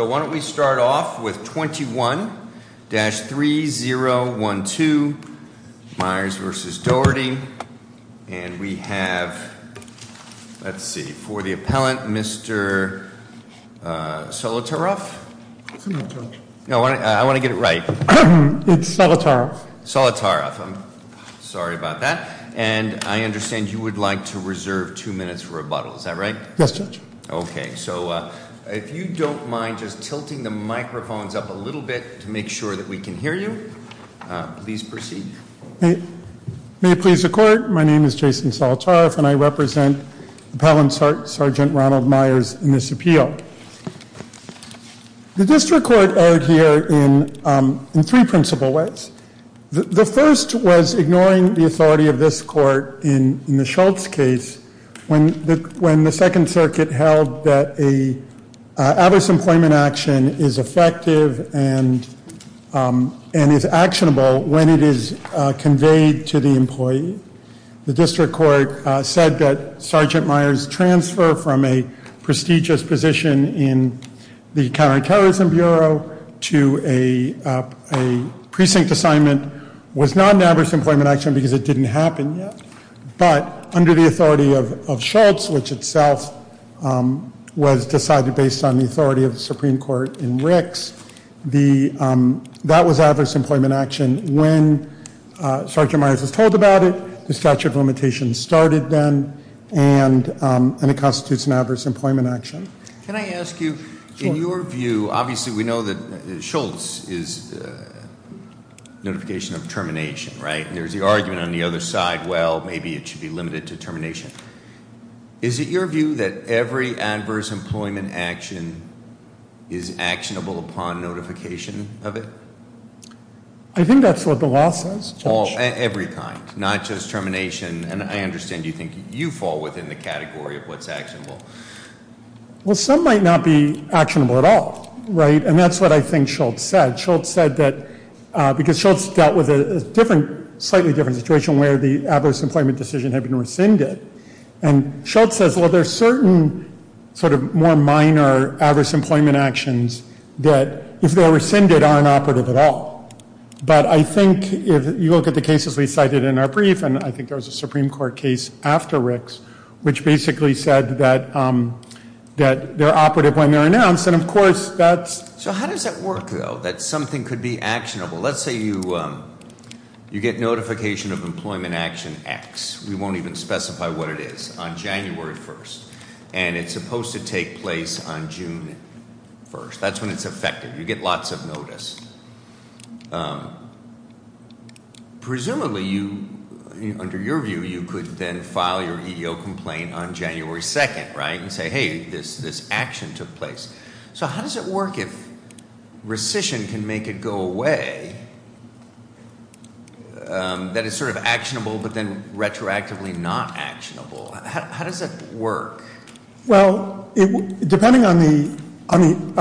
So why don't we start off with 21-3012 Myers v. Doherty. And we have, let's see, for the appellant, Mr. Solotaroff? No, I want to get it right. It's Solotaroff. Solotaroff, I'm sorry about that. And I understand you would like to reserve two minutes for rebuttal, is that right? Yes, Judge. Okay, so if you don't mind just tilting the microphones up a little bit to make sure that we can hear you, please proceed. May it please the court, my name is Jason Solotaroff and I represent Appellant Sergeant Ronald Myers in this appeal. The district court erred here in three principle ways. The first was ignoring the authority of this court in the Schultz case when the Second Circuit held that a adverse employment action is effective and is actionable when it is conveyed to the employee. The district court said that Sergeant Myers' transfer from a prestigious position in the Counterterrorism Bureau to a precinct assignment was not an adverse employment action because it didn't happen yet. But under the authority of Schultz, which itself was decided based on the authority of the Supreme Court in Ricks, that was adverse employment action when Sergeant Myers was told about it, the statute of limitations started then, and it constitutes an adverse employment action. Can I ask you, in your view, obviously we know that Schultz is a notification of termination, right? There's the argument on the other side, well, maybe it should be limited to termination. Is it your view that every adverse employment action is actionable upon notification of it? I think that's what the law says. All, every kind, not just termination, and I understand you think you fall within the category of what's actionable. Well, some might not be actionable at all, right? And that's what I think Schultz said. Schultz said that, because Schultz dealt with a different, slightly different situation where the adverse employment decision had been rescinded. And Schultz says, well, there's certain sort of more minor adverse employment actions that, if they're rescinded, aren't operative at all. But I think if you look at the cases we cited in our brief, and I think there was a Supreme Court case after Ricks, which basically said that they're operative when they're announced, and of course that's- That something could be actionable. Let's say you get notification of employment action X. We won't even specify what it is, on January 1st. And it's supposed to take place on June 1st. That's when it's effective. You get lots of notice. Presumably you, under your view, you could then file your EEO complaint on January 2nd, right? And say, hey, this action took place. So how does it work if rescission can make it go away? That is sort of actionable, but then retroactively not actionable. How does it work? Well, depending on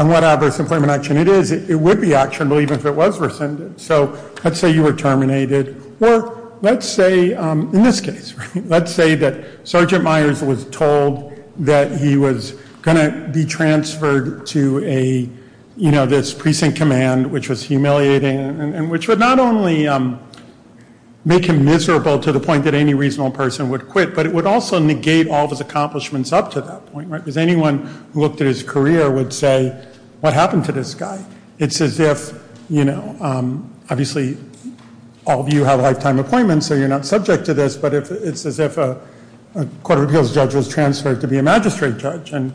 what adverse employment action it is, it would be actionable even if it was rescinded. So let's say you were terminated, or let's say, in this case, let's say that Sergeant Myers was told that he was going to be transferred to this precinct command, which was humiliating, and which would not only make him miserable to the point that any reasonable person would quit, but it would also negate all of his accomplishments up to that point, right? Because anyone who looked at his career would say, what happened to this guy? It's as if, obviously, all of you have lifetime appointments, so you're not subject to this. But it's as if a court of appeals judge was transferred to be a magistrate judge, and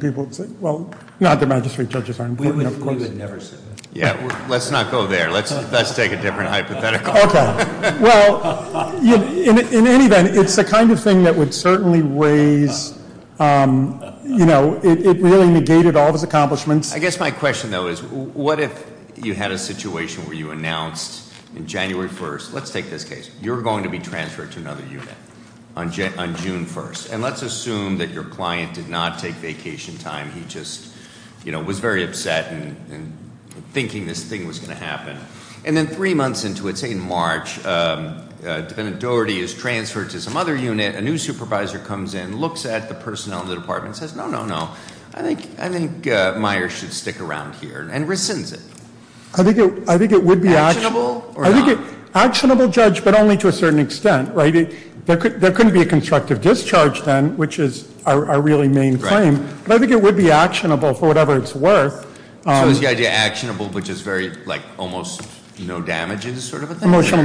people would say, well, not that magistrate judges aren't important, of course. We would never say that. Yeah, let's not go there. Let's take a different hypothetical. Okay. Well, in any event, it's the kind of thing that would certainly raise, it really negated all of his accomplishments. I guess my question, though, is what if you had a situation where you announced on January 1st, let's take this case. You're going to be transferred to another unit on June 1st. And let's assume that your client did not take vacation time. He just was very upset and thinking this thing was going to happen. And then three months into it, say in March, defendant Doherty is transferred to some other unit. A new supervisor comes in, looks at the personnel in the department, and says, no, no, no. I think Myers should stick around here, and rescinds it. I think it would be actionable. Actionable or not? Actionable, Judge, but only to a certain extent, right? There couldn't be a constructive discharge then, which is our really main claim. But I think it would be actionable for whatever it's worth. So is the idea actionable, which is very, almost no damage is sort of a thing? Emotional,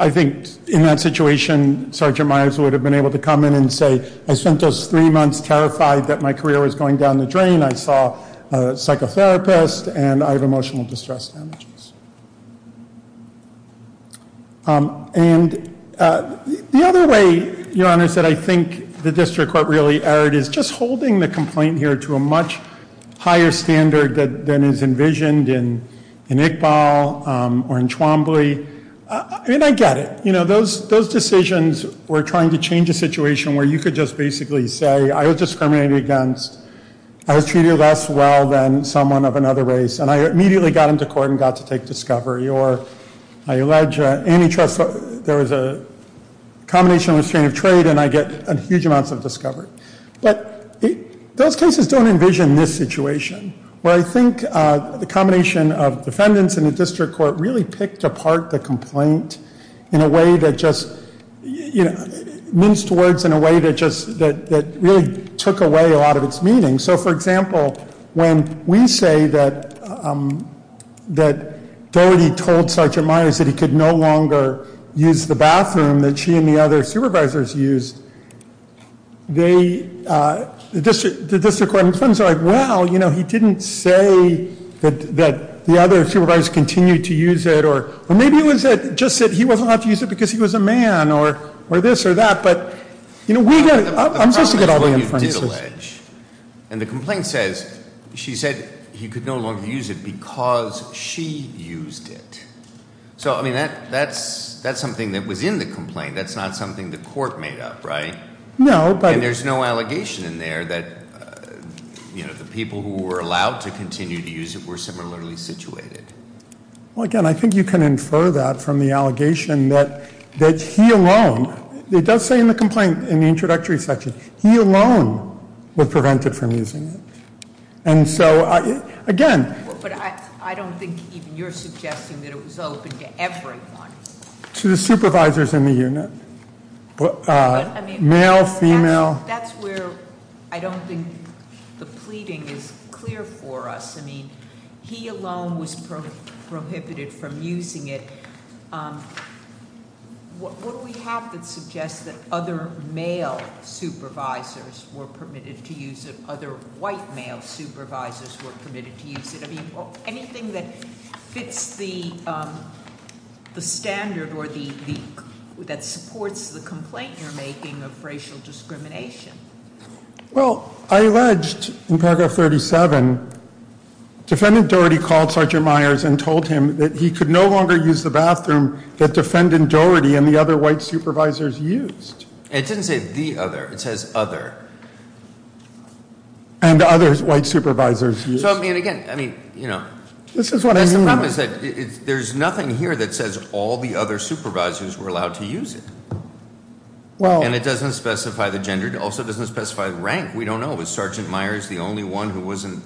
I think in that situation, Sergeant Myers would have been able to come in and say, I spent those three months terrified that my career was going down the drain. I saw a psychotherapist, and I have emotional distress damages. And the other way, Your Honor, is that I think the district court really erred is just holding the complaint here to a much higher standard than is envisioned in Iqbal or in Chwambli. And I get it. Those decisions were trying to change a situation where you could just basically say, I was discriminated against, I was treated less well than someone of another race, and I immediately got into court and got to take discovery, or I allege antitrust, there was a combination of restraint of trade, and I get huge amounts of discovery. But those cases don't envision this situation. Where I think the combination of defendants and the district court really picked apart the complaint in a way that just, minced words in a way that really took away a lot of its meaning. So for example, when we say that Doherty told Sergeant Myers that he could no longer use the bathroom that she and the other supervisors used, the district court in terms of, well, he didn't say that the other supervisors continued to use it. Or maybe it was just that he wasn't allowed to use it because he was a man, or this or that. But we get, I'm just to get all the inferences. And the complaint says, she said he could no longer use it because she used it. So I mean, that's something that was in the complaint. That's not something the court made up, right? No, but- And there's no allegation in there that the people who were allowed to continue to use it were similarly situated. Well, again, I think you can infer that from the allegation that he alone, it does say in the complaint, in the introductory section, he alone was prevented from using it. And so, again- But I don't think even you're suggesting that it was open to everyone. To the supervisors in the unit, male, female. That's where I don't think the pleading is clear for us. I mean, he alone was prohibited from using it. What do we have that suggests that other male supervisors were permitted to use it? Other white male supervisors were permitted to use it? I mean, anything that fits the standard or that supports the complaint you're making of racial discrimination. Well, I alleged in paragraph 37, Defendant Doherty called Sergeant Myers and told him that he could no longer use the bathroom that Defendant Doherty and the other white supervisors used. And it didn't say the other, it says other. And the other white supervisors used. So I mean, again, I mean, you know. This is what I mean. The problem is that there's nothing here that says all the other supervisors were allowed to use it. And it doesn't specify the gender, it also doesn't specify the rank. We don't know, was Sergeant Myers the only one who wasn't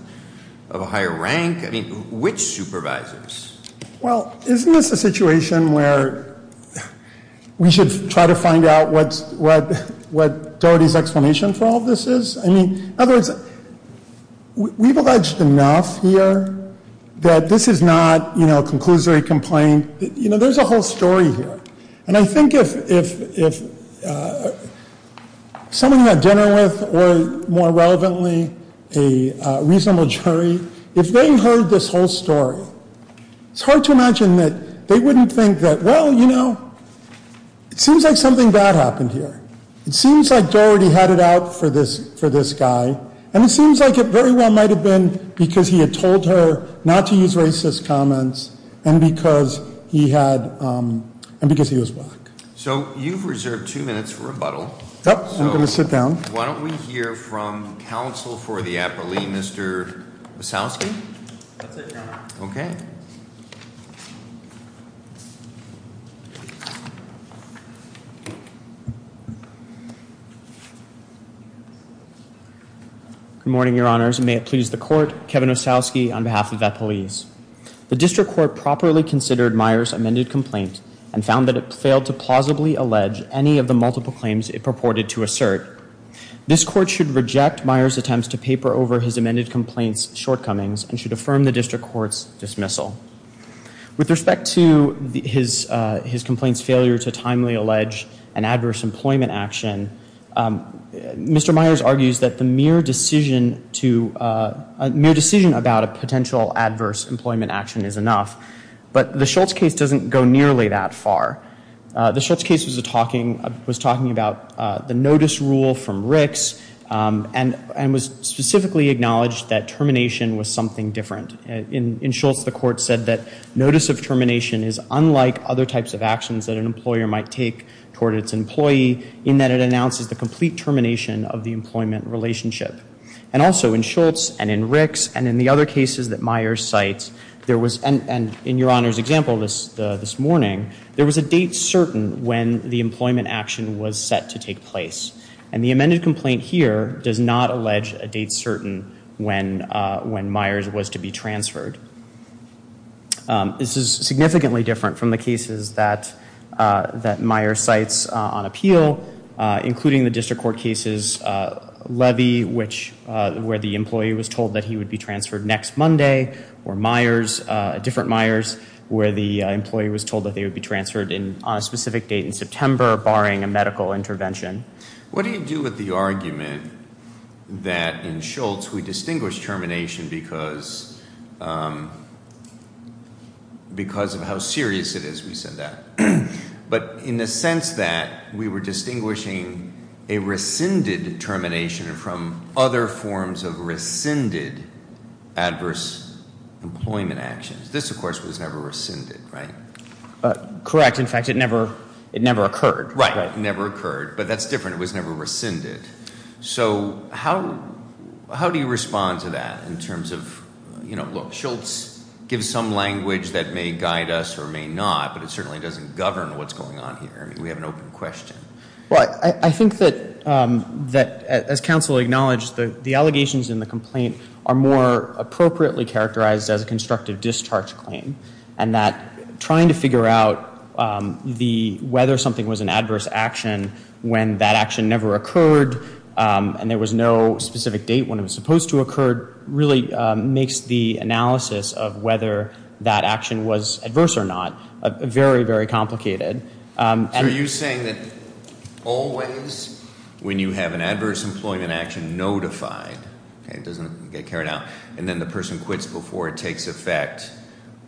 of a higher rank? I mean, which supervisors? Well, isn't this a situation where we should try to find out what Doherty's explanation for all this is? I mean, in other words, we've alleged enough here that this is not a conclusory complaint. There's a whole story here. And I think if someone you had dinner with, or more relevantly, a reasonable jury, if they heard this whole story, it's hard to imagine that they wouldn't think that, well, you know, it seems like something bad happened here. It seems like Doherty had it out for this guy. And it seems like it very well might have been because he had told her not to use racist comments. And because he was black. So you've reserved two minutes for rebuttal. Yep, I'm going to sit down. Why don't we hear from counsel for the appellee, Mr. Wasowski? That's it, Your Honor. Okay. Good morning, Your Honors, and may it please the court, Kevin Wasowski on behalf of Appellees. The district court properly considered Myers' amended complaint and found that it failed to plausibly allege any of the multiple claims it purported to assert. This court should reject Myers' attempts to paper over his amended complaint's shortcomings and should affirm the district court's dismissal. With respect to his complaint's failure to timely allege an adverse employment action, Mr. Myers argues that the mere decision to, a mere decision about a potential adverse employment action is enough. But the Schultz case doesn't go nearly that far. The Schultz case was talking about the notice rule from Ricks and was specifically acknowledged that termination was something different. In Schultz, the court said that notice of termination is unlike other types of actions that an employer might take toward its employee in that it announces the complete termination of the employment relationship. And also in Schultz and in Ricks and in the other cases that Myers cites, there was, and in Your Honor's example this morning, there was a date certain when the employment action was set to take place. And the amended complaint here does not allege a date certain when Myers was to be transferred. This is significantly different from the cases that Myers cites on appeal, including the district court case's levy, where the employee was told that he would be transferred next Monday. Or Myers, different Myers, where the employee was told that they would be transferred on a specific date in September, barring a medical intervention. What do you do with the argument that in Schultz, we distinguish termination because of how serious it is we said that. But in the sense that we were distinguishing a rescinded termination from other forms of rescinded adverse employment actions. This, of course, was never rescinded, right? Correct, in fact, it never occurred. Right, never occurred. But that's different, it was never rescinded. So how do you respond to that in terms of, look, Schultz gives some language that may guide us or may not, but it certainly doesn't govern what's going on here. I mean, we have an open question. But I think that, as counsel acknowledged, the allegations in the complaint are more appropriately characterized as a constructive discharge claim. And that trying to figure out whether something was an adverse action when that action never occurred. And there was no specific date when it was supposed to occur, really makes the analysis of whether that action was adverse or not very, very complicated. And- Are you saying that always, when you have an adverse employment action notified, okay, it doesn't get carried out, and then the person quits before it takes effect.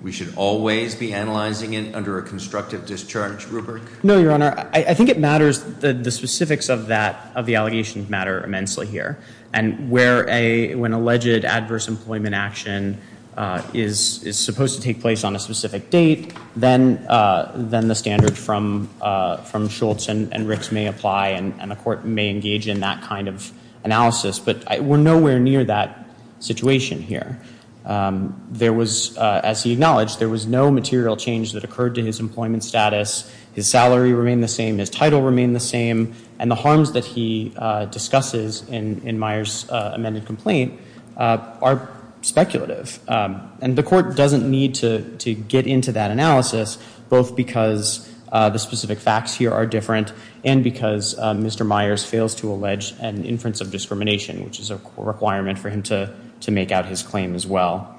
We should always be analyzing it under a constructive discharge rubric? No, Your Honor, I think it matters, the specifics of that, of the allegations matter immensely here. And where an alleged adverse employment action is supposed to take place on a specific date, then the standard from Schultz and Ricks may apply, and the court may engage in that kind of analysis. But we're nowhere near that situation here. There was, as he acknowledged, there was no material change that occurred to his employment status, his salary remained the same, his title remained the same, and the harms that he discusses in Myers' amended complaint are speculative. And the court doesn't need to get into that analysis, both because the specific facts here are different, and because Mr. Myers fails to allege an inference of discrimination, which is a requirement for him to make out his claim as well.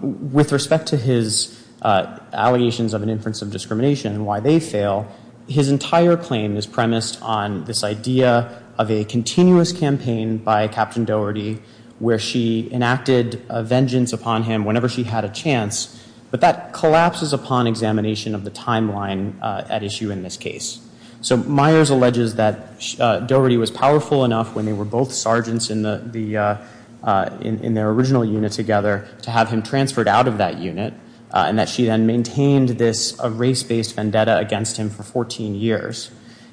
With respect to his allegations of an inference of discrimination and why they fail, his entire claim is premised on this idea of a continuous campaign by Captain Doherty where she enacted a vengeance upon him whenever she had a chance, but that collapses upon examination of the timeline at issue in this case. So Myers alleges that Doherty was powerful enough when they were both sergeants in their original unit together to have him transferred out of that unit, and that she then maintained this race-based vendetta against him for 14 years.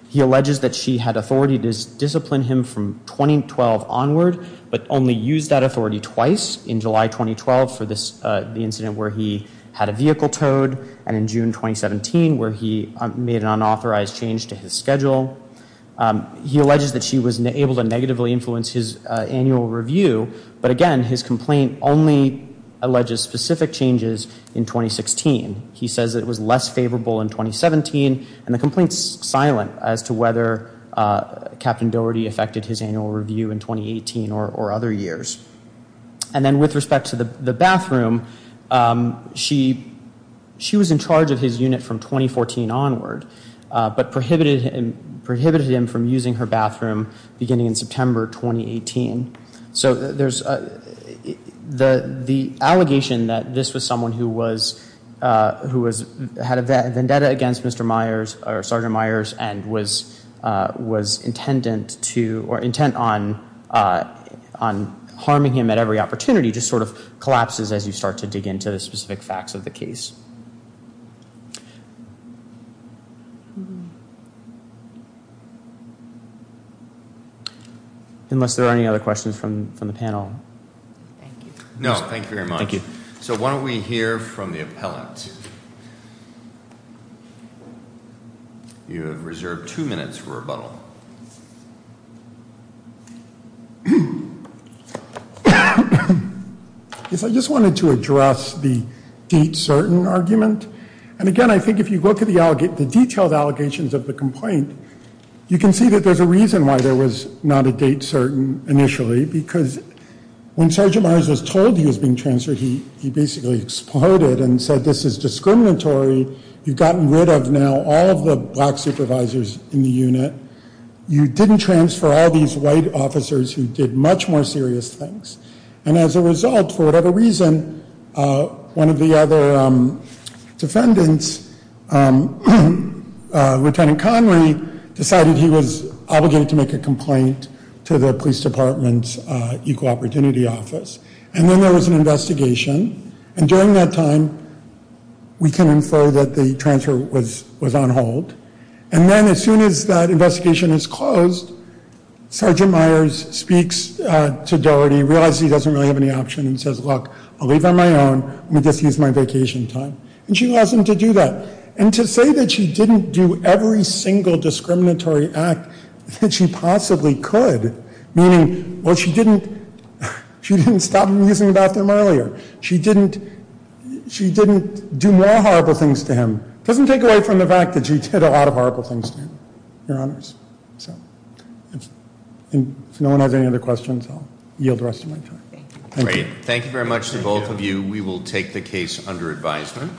He alleges that she had authority to discipline him from 2012 onward, but only used that authority twice, in July 2012 for the incident where he had a vehicle towed, and in June 2017 where he made an unauthorized change to his schedule. He alleges that she was able to negatively influence his annual review, but again, his complaint only alleges specific changes in 2016. He says it was less favorable in 2017, and the complaint's silent as to whether Captain Doherty affected his annual review in 2018 or other years. And then with respect to the bathroom, she was in charge of his unit from 2014 onward, but prohibited him from using her bathroom beginning in September 2018. So there's the allegation that this was someone who had a vendetta against Mr. Myers, or Sergeant Myers, and was intent on harming him at every opportunity just sort of collapses as you start to dig into the specific facts of the case. Unless there are any other questions from the panel. No, thank you very much. Thank you. So why don't we hear from the appellant? You have reserved two minutes for rebuttal. Yes, I just wanted to address the deep certain argument. And again, I think if you look at the detailed allegations of the complaint, you can see that there's a reason why there was not a date certain initially, because when Sergeant Myers was told he was being transferred, he basically exploded and said this is discriminatory. You've gotten rid of now all of the black supervisors in the unit. You didn't transfer all these white officers who did much more serious things. And as a result, for whatever reason, one of the other defendants, Lieutenant Connery, decided he was obligated to make a complaint to the police department's equal opportunity office. And then there was an investigation. And during that time, we can infer that the transfer was on hold. And then as soon as that investigation is closed, Sergeant Myers speaks to Doherty, realizes he doesn't really have any option, and says, look, I'll leave it on my own. Let me just use my vacation time. And she allows him to do that. And to say that she didn't do every single discriminatory act that she possibly could, meaning, well, she didn't stop amusing about them earlier. She didn't do more horrible things to him, doesn't take away from the fact that she did a lot of horrible things to him, your honors. So if no one has any other questions, I'll yield the rest of my time. Thank you. Thank you very much to both of you. We will take the case under advisement.